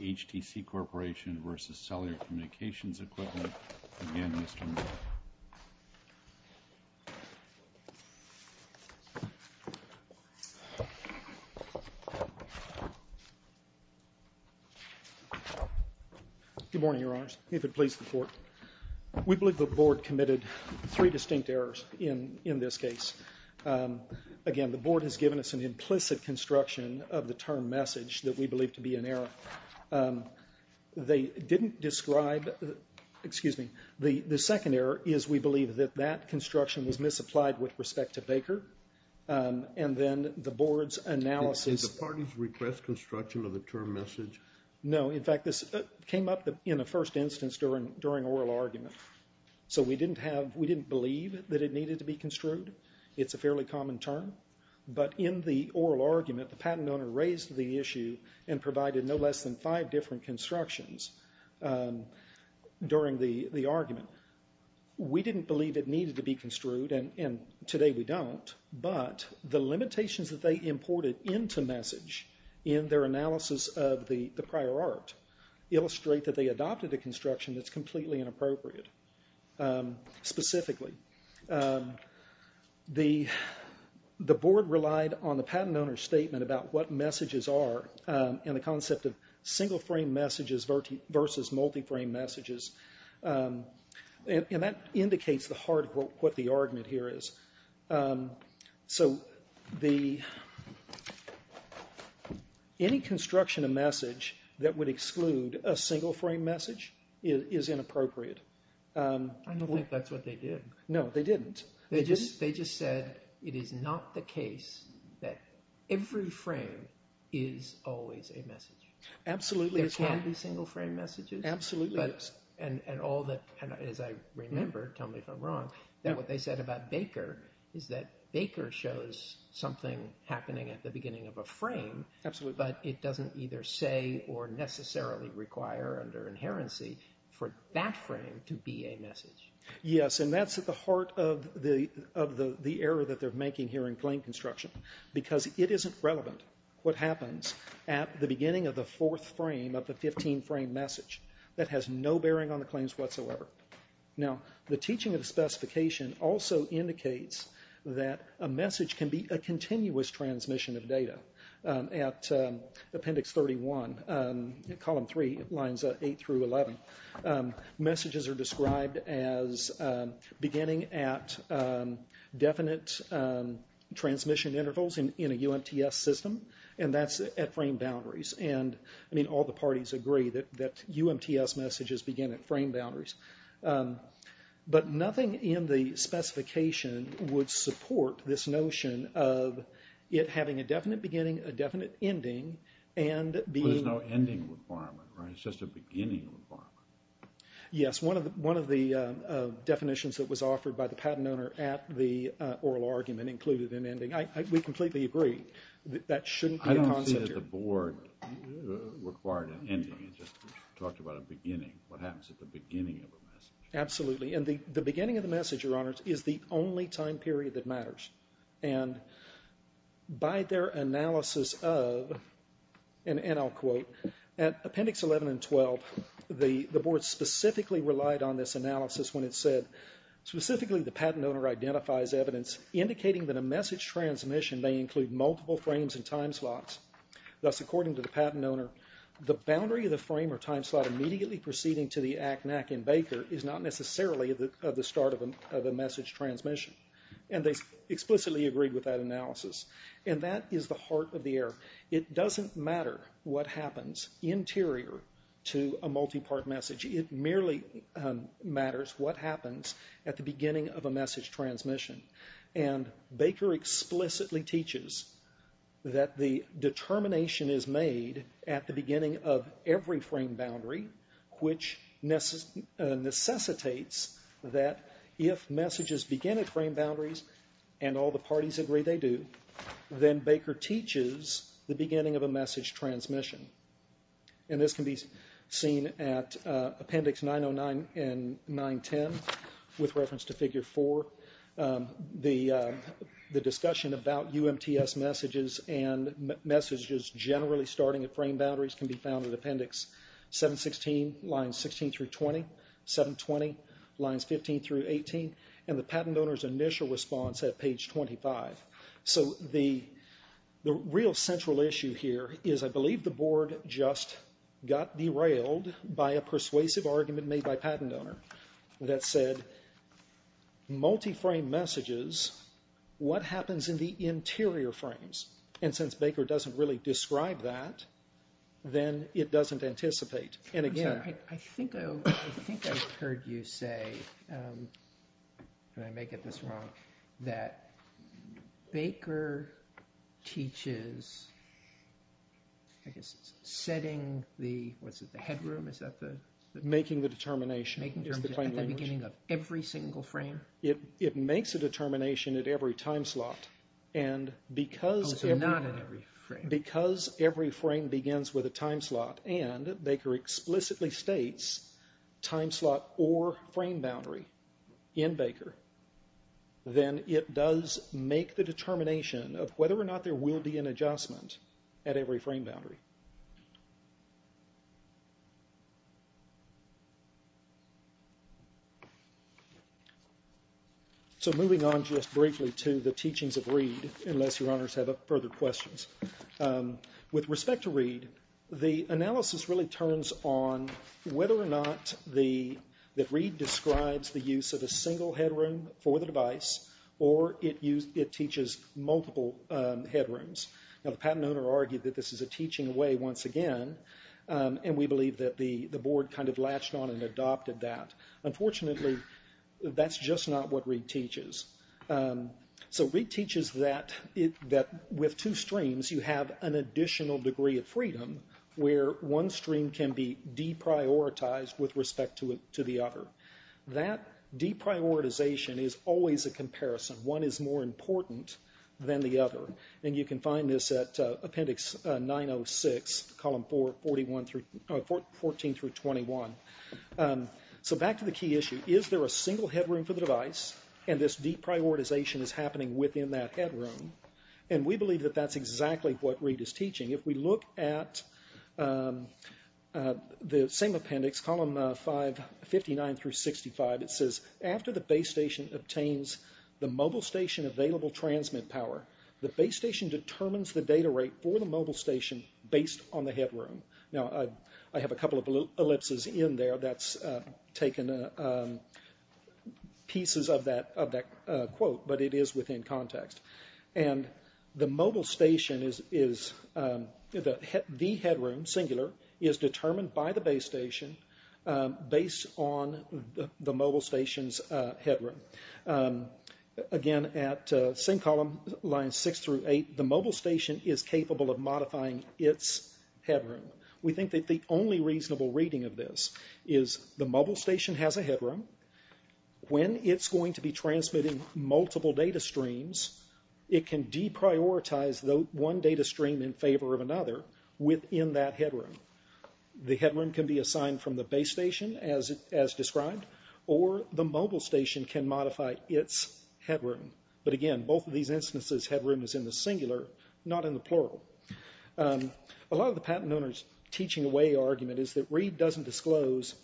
HTC Corporation v. Cellular Communications Equipment. Again, Mr. Miller. Good morning, Your Honors. If it please the Court, we believe the Board committed three distinct errors in this case. Again, the Board has given us an implicit construction of the term message that we believe to be an error. They didn't describe, excuse me, the second error is we believe that that construction was misapplied with respect to Baker. And then the Board's analysis... Did the parties request construction of the term message? No. In fact, this came up in the first instance during oral argument. So we didn't believe that it needed to be construed. It's a fairly common term. But in the oral argument, the patent owner raised the issue and provided no less than five different constructions during the argument. We didn't believe it needed to be construed, and today we don't. But the limitations that they imported into message in their analysis of the prior art illustrate that they adopted a construction that's completely inappropriate. Specifically, the Board relied on the patent owner's statement about what messages are and the concept of single-frame messages versus multi-frame messages. And that indicates the heart of what the argument here is. So any construction of message that would exclude a single-frame message is inappropriate. I don't think that's what they did. No, they didn't. They just said it is not the case that every frame is always a message. Absolutely. There can be single-frame messages. Absolutely. And as I remember, tell me if I'm wrong, what they said about Baker is that Baker shows something happening at the beginning of a frame. Absolutely. But it doesn't either say or necessarily require under inherency for that frame to be a message. Yes, and that's at the heart of the error that they're making here in claim construction, because it isn't relevant what happens at the beginning of the fourth frame of the 15-frame message. That has no bearing on the claims whatsoever. Now, the teaching of the specification also indicates that a message can be a continuous transmission of data. At Appendix 31, Column 3, Lines 8 through 11, messages are described as beginning at definite transmission intervals in a UMTS system, and that's at frame boundaries. And all the parties agree that UMTS messages begin at frame boundaries. But nothing in the specification would support this notion of it having a definite beginning, a definite ending, and being... Well, there's no ending requirement, right? It's just a beginning requirement. Yes, one of the definitions that was offered by the patent owner at the oral argument included an ending. We completely agree that that shouldn't be a concept here. I don't see that the board required an ending. It just talked about a beginning. What happens at the beginning of a message? Absolutely. And the beginning of the message, Your Honors, is the only time period that matters. And by their analysis of, and I'll quote, at Appendix 11 and 12, the board specifically relied on this analysis when it said, specifically the patent owner identifies evidence indicating that a message transmission may include multiple frames and time slots. Thus, according to the patent owner, the boundary of the frame or time slot immediately proceeding to the ac-nac in Baker is not necessarily the start of a message transmission. And they explicitly agreed with that analysis. And that is the heart of the error. It doesn't matter what happens interior to a multi-part message. It merely matters what happens at the beginning of a message transmission. And Baker explicitly teaches that the determination is made at the beginning of every frame boundary, which necessitates that if messages begin at frame boundaries and all the parties agree they do, then Baker teaches the beginning of a message transmission. And this can be seen at Appendix 909 and 910 with reference to Figure 4. The discussion about UMTS messages and messages generally starting at frame boundaries can be found at Appendix 716, lines 16 through 20, 720, lines 15 through 18, and the patent owner's initial response at page 25. So the real central issue here is I believe the board just got derailed by a persuasive argument made by a patent owner that said multi-frame messages, what happens in the interior frames? And since Baker doesn't really describe that, then it doesn't anticipate. I think I've heard you say, and I may get this wrong, that Baker teaches setting the, what's it, the headroom? Making the determination is the plain language. At the beginning of every single frame? It makes a determination at every time slot. Oh, so not at every frame. Because every frame begins with a time slot and Baker explicitly states time slot or frame boundary in Baker, then it does make the determination of whether or not there will be an adjustment at every frame boundary. So moving on just briefly to the teachings of Reed, unless your honors have further questions. With respect to Reed, the analysis really turns on whether or not that Reed describes the use of a single headroom for the device or it teaches multiple headrooms. Now the patent owner argued that this is a teaching away once again, and we believe that the board kind of latched on and adopted that. Unfortunately, that's just not what Reed teaches. So Reed teaches that with two streams you have an additional degree of freedom where one stream can be deprioritized with respect to the other. That deprioritization is always a comparison. One is more important than the other. And you can find this at appendix 906, column 14 through 21. So back to the key issue. Is there a single headroom for the device and this deprioritization is happening within that headroom? And we believe that that's exactly what Reed is teaching. If we look at the same appendix, column 59 through 65, it says after the base station obtains the mobile station available transmit power, the base station determines the data rate for the mobile station based on the headroom. Now I have a couple of ellipses in there that's taken pieces of that quote, but it is within context. And the mobile station is the headroom, singular, is determined by the base station based on the mobile station's headroom. Again, at same column, lines six through eight, the mobile station is capable of modifying its headroom. We think that the only reasonable reading of this is the mobile station has a headroom. When it's going to be transmitting multiple data streams, it can deprioritize one data stream in favor of another within that headroom. The headroom can be assigned from the base station as described, or the mobile station can modify its headroom. But again, both of these instances, headroom is in the singular, not in the plural. A lot of the patent owner's teaching away argument is that Reed doesn't disclose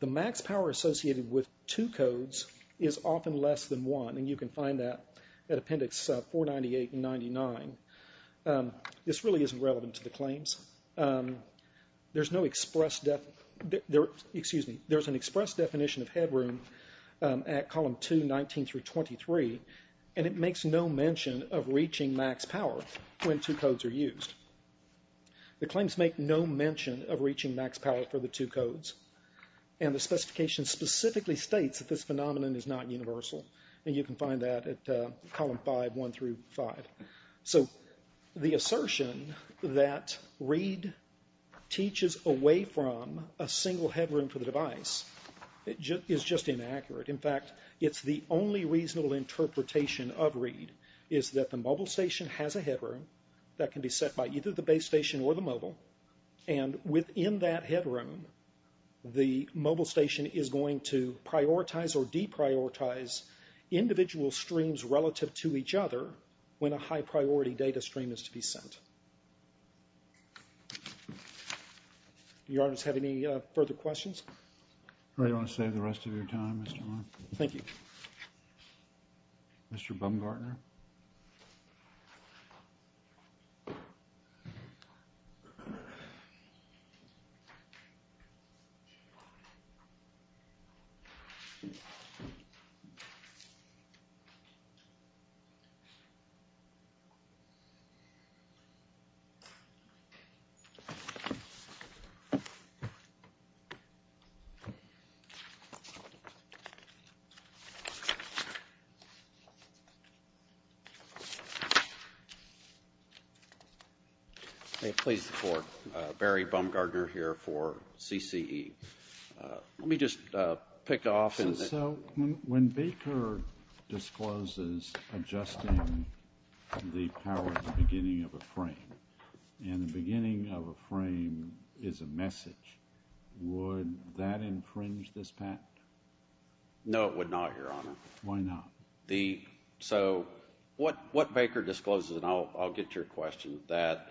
the max power associated with two codes is often less than one, and you can find that at appendix 498 and 99. This really isn't relevant to the claims. There's an express definition of headroom at column 2, 19 through 23, and it makes no mention of reaching max power when two codes are used. The claims make no mention of reaching max power for the two codes, and the specification specifically states that this phenomenon is not universal, and you can find that at column 5, 1 through 5. So the assertion that Reed teaches away from a single headroom for the device is just inaccurate. In fact, it's the only reasonable interpretation of Reed, is that the mobile station has a headroom that can be set by either the base station or the mobile, and within that headroom, the mobile station is going to prioritize or deprioritize individual streams relative to each other when a high-priority data stream is to be sent. Do your honors have any further questions? Do you want to save the rest of your time, Mr. Warren? Thank you. Mr. Bumgartner? May it please the Court. Barry Bumgartner here for CCE. Let me just pick off. So when Baker discloses adjusting the power at the beginning of a frame, and the beginning of a frame is a message, would that infringe this patent? No, it would not, Your Honor. Why not? So what Baker discloses, and I'll get to your question, that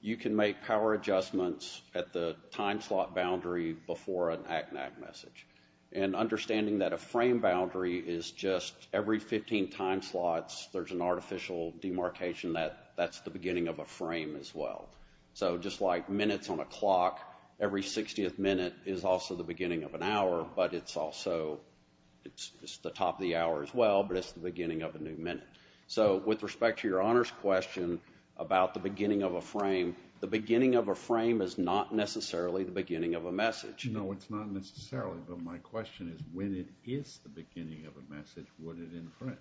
you can make power adjustments at the time slot boundary before an act-and-act message. And understanding that a frame boundary is just every 15 time slots, there's an artificial demarcation that that's the beginning of a frame as well. So just like minutes on a clock, every 60th minute is also the beginning of an hour, but it's also the top of the hour as well, but it's the beginning of a new minute. So with respect to your honors question about the beginning of a frame, the beginning of a frame is not necessarily the beginning of a message. No, it's not necessarily, but my question is, when it is the beginning of a message, would it infringe?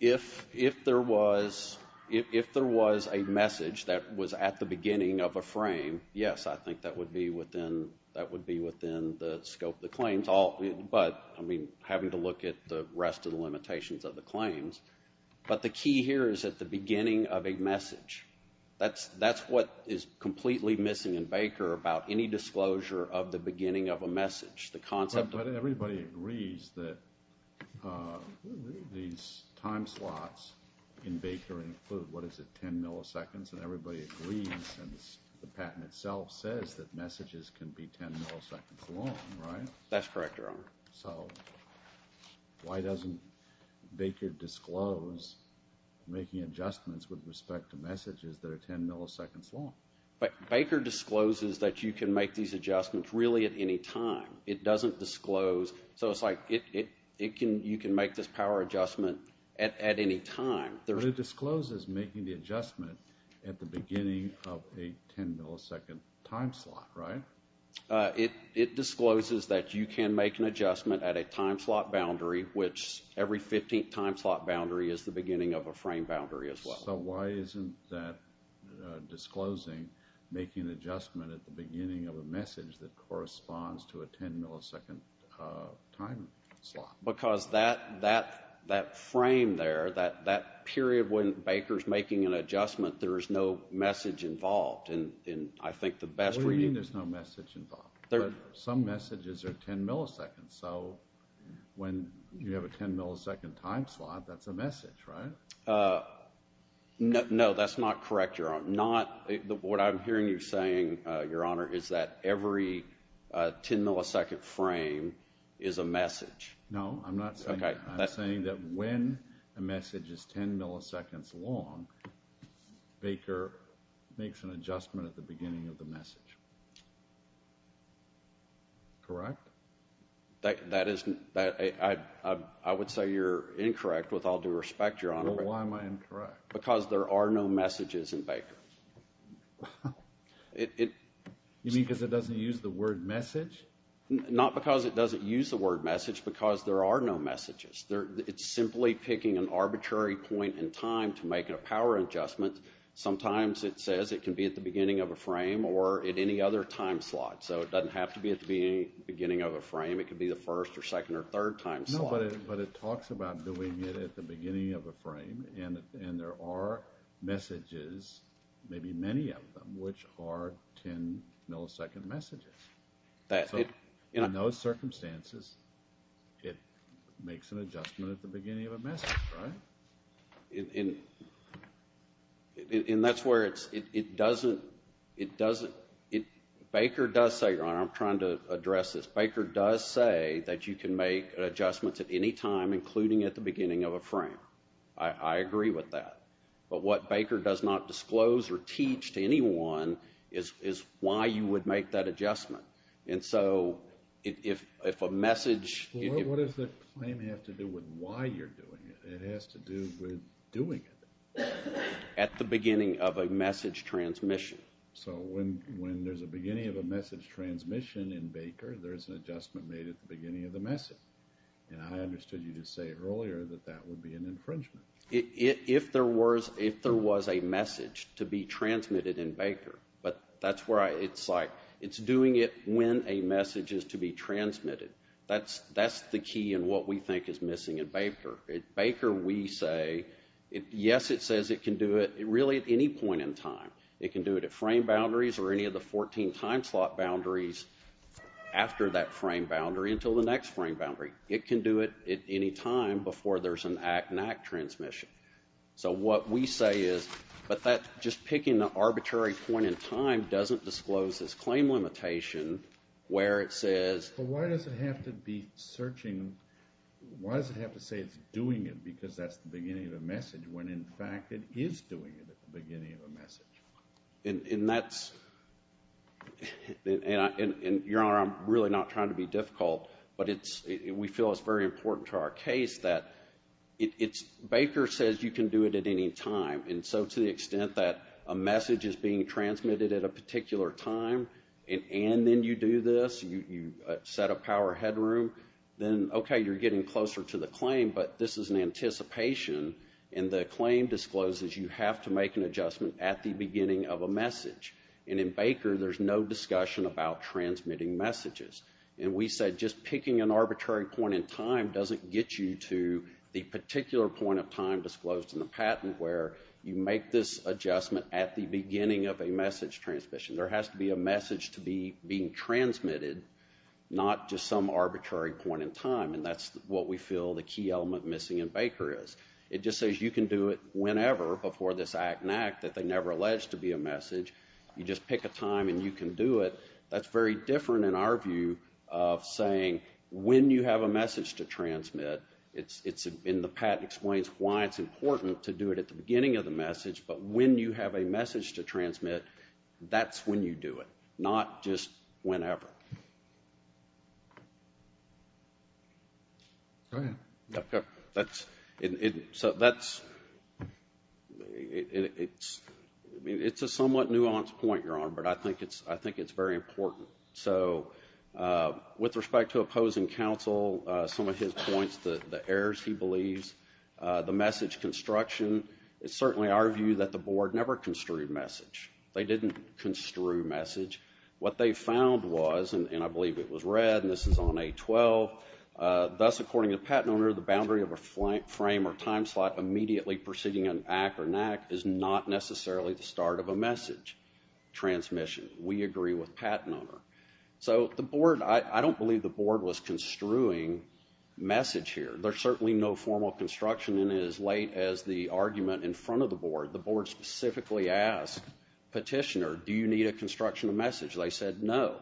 If there was a message that was at the beginning of a frame, yes, I think that would be within the scope of the claims, but having to look at the rest of the limitations of the claims. But the key here is at the beginning of a message. That's what is completely missing in Baker about any disclosure of the beginning of a message. But everybody agrees that these time slots in Baker include, what is it, 10 milliseconds? And everybody agrees, and the patent itself says that messages can be 10 milliseconds long, right? That's correct, Your Honor. So why doesn't Baker disclose making adjustments with respect to messages that are 10 milliseconds long? Baker discloses that you can make these adjustments really at any time. It doesn't disclose, so it's like you can make this power adjustment at any time. But it discloses making the adjustment at the beginning of a 10-millisecond time slot, right? It discloses that you can make an adjustment at a time slot boundary, which every 15th time slot boundary is the beginning of a frame boundary as well. So why isn't that disclosing making an adjustment at the beginning of a message that corresponds to a 10-millisecond time slot? Because that frame there, that period when Baker's making an adjustment, there is no message involved. What do you mean there's no message involved? Some messages are 10 milliseconds. So when you have a 10-millisecond time slot, that's a message, right? No, that's not correct, Your Honor. What I'm hearing you saying, Your Honor, is that every 10-millisecond frame is a message. No, I'm not saying that. I'm saying that when a message is 10 milliseconds long, Baker makes an adjustment at the beginning of the message. Correct? I would say you're incorrect, with all due respect, Your Honor. Well, why am I incorrect? Because there are no messages in Baker. You mean because it doesn't use the word message? Not because it doesn't use the word message, because there are no messages. It's simply picking an arbitrary point in time to make a power adjustment. Sometimes it says it can be at the beginning of a frame or at any other time slot. So it doesn't have to be at the beginning of a frame. It could be the first or second or third time slot. No, but it talks about doing it at the beginning of a frame, and there are messages, maybe many of them, which are 10-millisecond messages. So in those circumstances, it makes an adjustment at the beginning of a message, right? And that's where it doesn't – Baker does say, Your Honor, I'm trying to address this, Baker does say that you can make adjustments at any time, including at the beginning of a frame. I agree with that. But what Baker does not disclose or teach to anyone is why you would make that adjustment. And so if a message – Well, what does the claim have to do with why you're doing it? It has to do with doing it. At the beginning of a message transmission. So when there's a beginning of a message transmission in Baker, there's an adjustment made at the beginning of the message. And I understood you to say earlier that that would be an infringement. If there was a message to be transmitted in Baker, but that's where I – it's like it's doing it when a message is to be transmitted. That's the key in what we think is missing in Baker. At Baker, we say, yes, it says it can do it really at any point in time. It can do it at frame boundaries or any of the 14 time slot boundaries after that frame boundary until the next frame boundary. It can do it at any time before there's an act-and-act transmission. So what we say is – but that just picking an arbitrary point in time doesn't disclose this claim limitation where it says – But why does it have to be searching – why does it have to say it's doing it because that's the beginning of a message when, in fact, it is doing it at the beginning of a message? And that's – and, Your Honor, I'm really not trying to be difficult, but we feel it's very important to our case that it's – Baker says you can do it at any time, and so to the extent that a message is being transmitted at a particular time and then you do this, you set a power headroom, then, okay, you're getting closer to the claim, but this is an anticipation, and the claim discloses you have to make an adjustment at the beginning of a message. And in Baker, there's no discussion about transmitting messages. And we said just picking an arbitrary point in time doesn't get you to the particular point of time disclosed in the patent where you make this adjustment at the beginning of a message transmission. There has to be a message to be being transmitted, not just some arbitrary point in time, and that's what we feel the key element missing in Baker is. It just says you can do it whenever before this act-and-act that they never alleged to be a message. You just pick a time and you can do it. That's very different in our view of saying when you have a message to transmit, and the patent explains why it's important to do it at the beginning of the message, but when you have a message to transmit, that's when you do it, not just whenever. Go ahead. That's a somewhat nuanced point, Your Honor, but I think it's very important. So with respect to opposing counsel, some of his points, the errors he believes, the message construction, it's certainly our view that the board never construed message. They didn't construe message. What they found was, and I believe it was read, and this is on A12, thus according to the patent owner, the boundary of a frame or time slot immediately preceding an act or an act is not necessarily the start of a message transmission. We agree with the patent owner. So the board, I don't believe the board was construing message here. There's certainly no formal construction, and as late as the argument in front of the board, the board specifically asked Petitioner, do you need a construction of message? They said, no,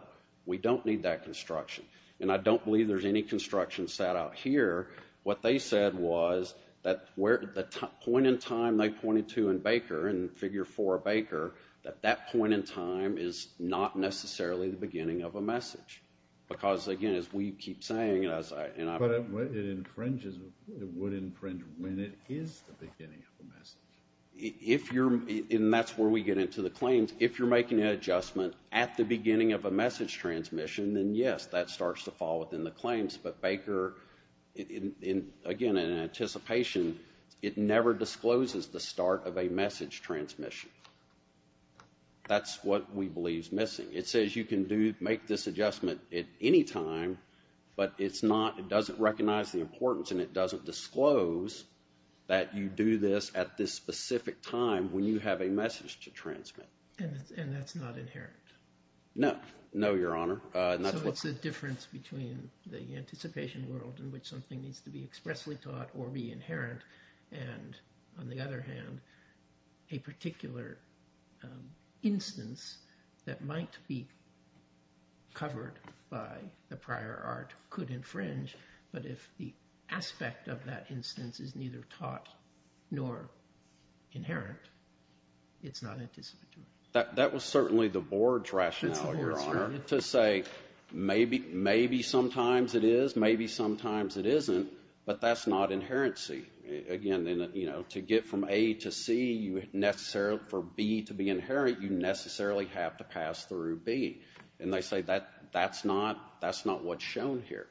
we don't need that construction, and I don't believe there's any construction set out here. What they said was that the point in time they pointed to in Baker, in Figure 4 Baker, that that point in time is not necessarily the beginning of a message. Because, again, as we keep saying, and I've said it. But it infringes, it would infringe when it is the beginning of a message. If you're, and that's where we get into the claims, if you're making an adjustment at the beginning of a message transmission, then, yes, that starts to fall within the claims. But Baker, again, in anticipation, it never discloses the start of a message transmission. That's what we believe is missing. It says you can make this adjustment at any time, but it's not, it doesn't recognize the importance and it doesn't disclose that you do this at this specific time when you have a message to transmit. And that's not inherent? No. No, Your Honor. So it's the difference between the anticipation world in which something needs to be expressly taught or be inherent, and, on the other hand, a particular instance that might be covered by the prior art could infringe. But if the aspect of that instance is neither taught nor inherent, it's not anticipatory. That was certainly the board's rationale, Your Honor, to say maybe sometimes it is, maybe sometimes it isn't, but that's not inherency. Again, you know, to get from A to C, for B to be inherent, you necessarily have to pass through B. And they say that's not what's shown here,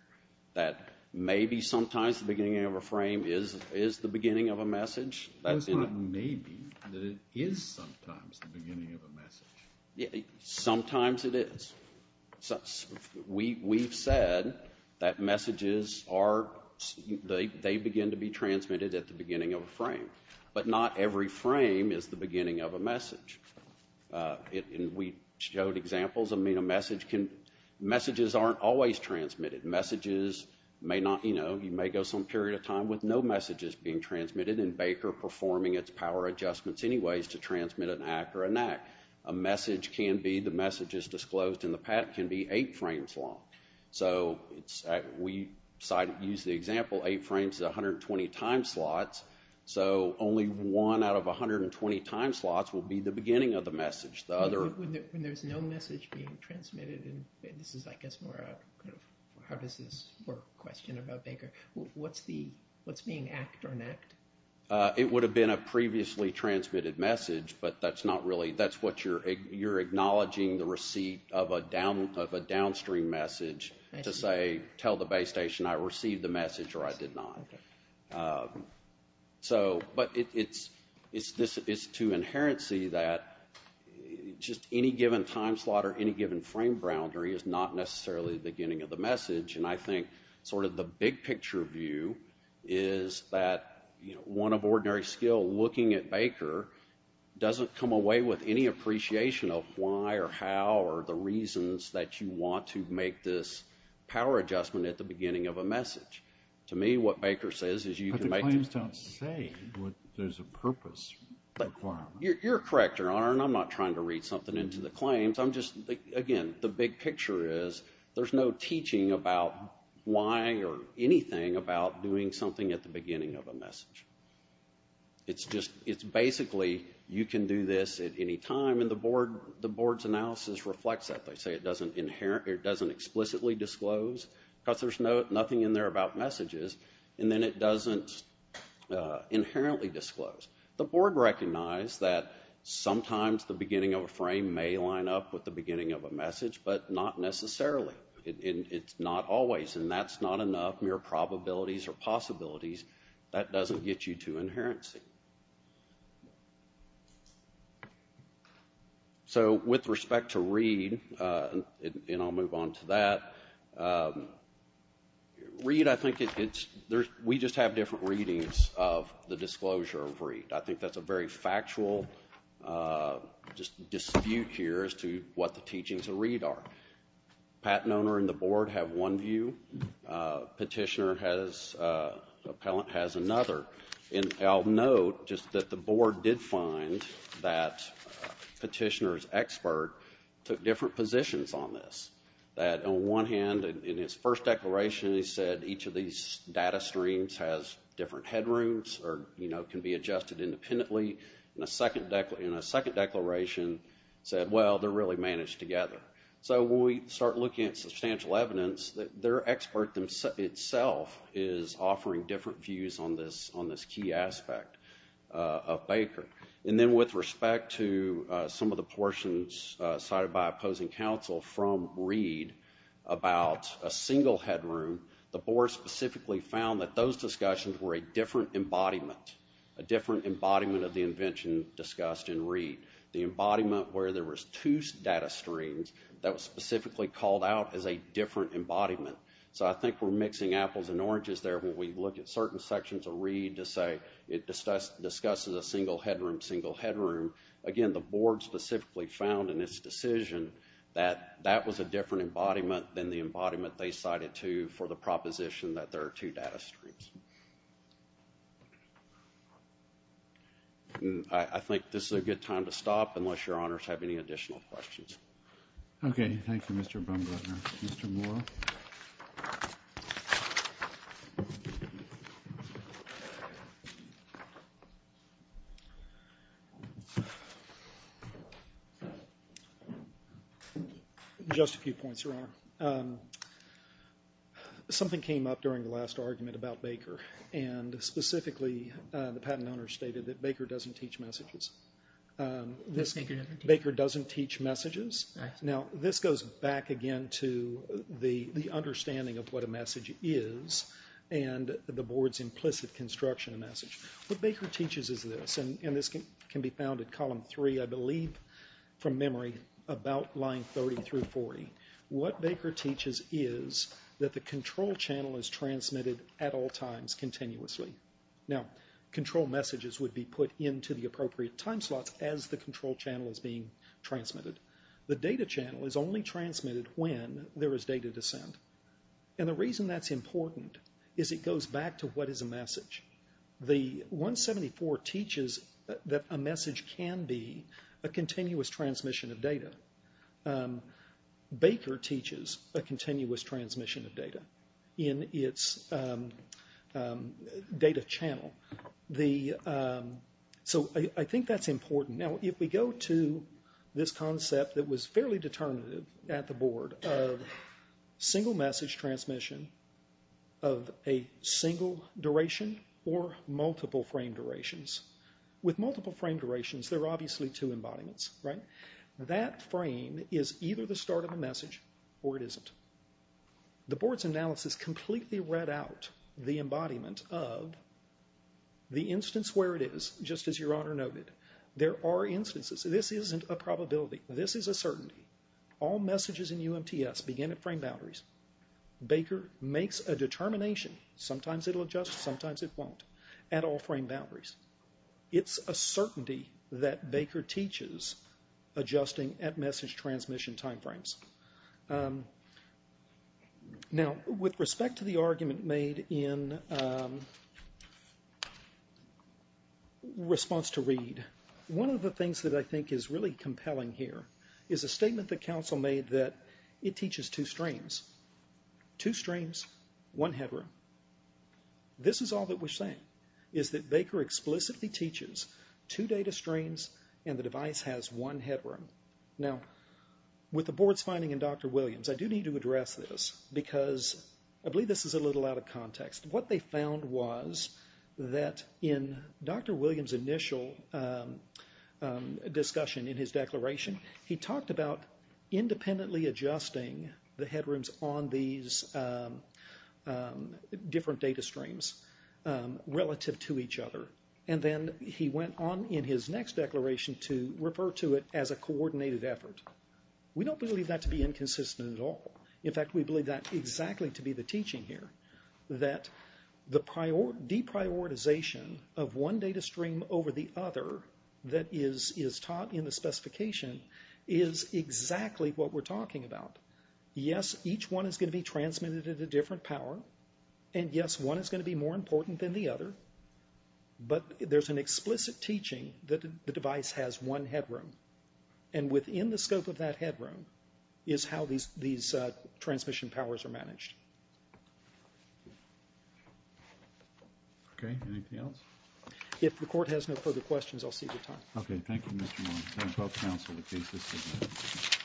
that maybe sometimes the beginning of a frame is the beginning of a message. That's not maybe, that it is sometimes the beginning of a message. Sometimes it is. We've said that messages are, they begin to be transmitted at the beginning of a frame. But not every frame is the beginning of a message. And we showed examples, I mean, a message can, messages aren't always transmitted. Messages may not, you know, you may go some period of time with no messages being transmitted, and Baker performing its power adjustments anyways to transmit an act or an act. A message can be, the message is disclosed in the pack, can be eight frames long. So we use the example, eight frames is 120 time slots, so only one out of 120 time slots will be the beginning of the message. When there's no message being transmitted, and this is, I guess, more of a how does this work question about Baker, what's the, what's being act or an act? It would have been a previously transmitted message, but that's not really, that's what you're acknowledging the receipt of a downstream message to say, tell the base station I received the message or I did not. So, but it's to inherency that just any given time slot or any given frame boundary is not necessarily the beginning of the message. And I think sort of the big picture view is that, you know, one of ordinary skill looking at Baker doesn't come away with any appreciation of why or how or the reasons that you want to make this power adjustment at the beginning of a message. To me, what Baker says is you can make this. But the claims don't say what there's a purpose requirement. You're correct, Your Honor, and I'm not trying to read something into the claims. I'm just, again, the big picture is there's no teaching about why or anything about doing something at the beginning of a message. It's just, it's basically you can do this at any time, and the board's analysis reflects that. They say it doesn't explicitly disclose because there's nothing in there about messages, and then it doesn't inherently disclose. The board recognized that sometimes the beginning of a frame may line up with the beginning of a message, but not necessarily. It's not always, and that's not enough. Mere probabilities or possibilities, that doesn't get you to inherency. So with respect to Reed, and I'll move on to that, Reed, I think it's, we just have different readings of the disclosure of Reed. I think that's a very factual dispute here as to what the teachings of Reed are. Patent owner and the board have one view. Petitioner has, appellant has another. And I'll note just that the board did find that petitioner's expert took different positions on this. That on one hand, in his first declaration, he said each of these data streams has different headrooms, or can be adjusted independently. In a second declaration, he said, well, they're really managed together. So when we start looking at substantial evidence, their expert itself is offering different views on this key aspect of Baker. And then with respect to some of the portions cited by opposing counsel from Reed about a single headroom, the board specifically found that those discussions were a different embodiment, a different embodiment of the invention discussed in Reed. The embodiment where there was two data streams that was specifically called out as a different embodiment. So I think we're mixing apples and oranges there when we look at certain sections of Reed to say it discusses a single headroom, single headroom. Again, the board specifically found in its decision that that was a different embodiment than the embodiment they cited to for the proposition that there are two data streams. I think this is a good time to stop unless your honors have any additional questions. Okay. Thank you, Mr. Bumgarner. Mr. Moore. Just a few points, Your Honor. Something came up during the last argument about Baker, and specifically the patent owner stated that Baker doesn't teach messages. Baker doesn't teach messages? Right. Now, this goes back again to the understanding of what a message is and the board's implicit construction of message. What Baker teaches is this, and this can be found at column three, I believe, from memory, about line 30 through 40. What Baker teaches is that the control channel is transmitted at all times continuously. Now, control messages would be put into the appropriate time slots as the control channel is being transmitted. The data channel is only transmitted when there is data to send, and the reason that's important is it goes back to what is a message. The 174 teaches that a message can be a continuous transmission of data. Baker teaches a continuous transmission of data in its data channel. So I think that's important. Now, if we go to this concept that was fairly determinative at the board of single message transmission of a single duration or multiple frame durations, with multiple frame durations there are obviously two embodiments, right? That frame is either the start of a message or it isn't. The board's analysis completely read out the embodiment of the instance where it is, just as Your Honor noted. There are instances. This isn't a probability. This is a certainty. All messages in UMTS begin at frame boundaries. Baker makes a determination, sometimes it'll adjust, sometimes it won't, at all frame boundaries. It's a certainty that Baker teaches adjusting at message transmission time frames. Now, with respect to the argument made in response to Reed, one of the things that I think is really compelling here is a statement that counsel made that it teaches two streams. Two streams, one headroom. This is all that we're saying, is that Baker explicitly teaches two data streams and the device has one headroom. Now, with the board's finding in Dr. Williams, I do need to address this because I believe this is a little out of context. What they found was that in Dr. Williams' initial discussion in his declaration, he talked about independently adjusting the headrooms on these different data streams relative to each other. Then he went on in his next declaration to refer to it as a coordinated effort. We don't believe that to be inconsistent at all. In fact, we believe that exactly to be the teaching here, that the deprioritization of one data stream over the other that is taught in the specification is exactly what we're talking about. Yes, each one is going to be transmitted at a different power, and yes, one is going to be more important than the other, but there's an explicit teaching that the device has one headroom. Within the scope of that headroom is how these transmission powers are managed. Okay, anything else? If the court has no further questions, I'll cede the time. Okay, thank you, Mr. Williams. I'll counsel the case this evening.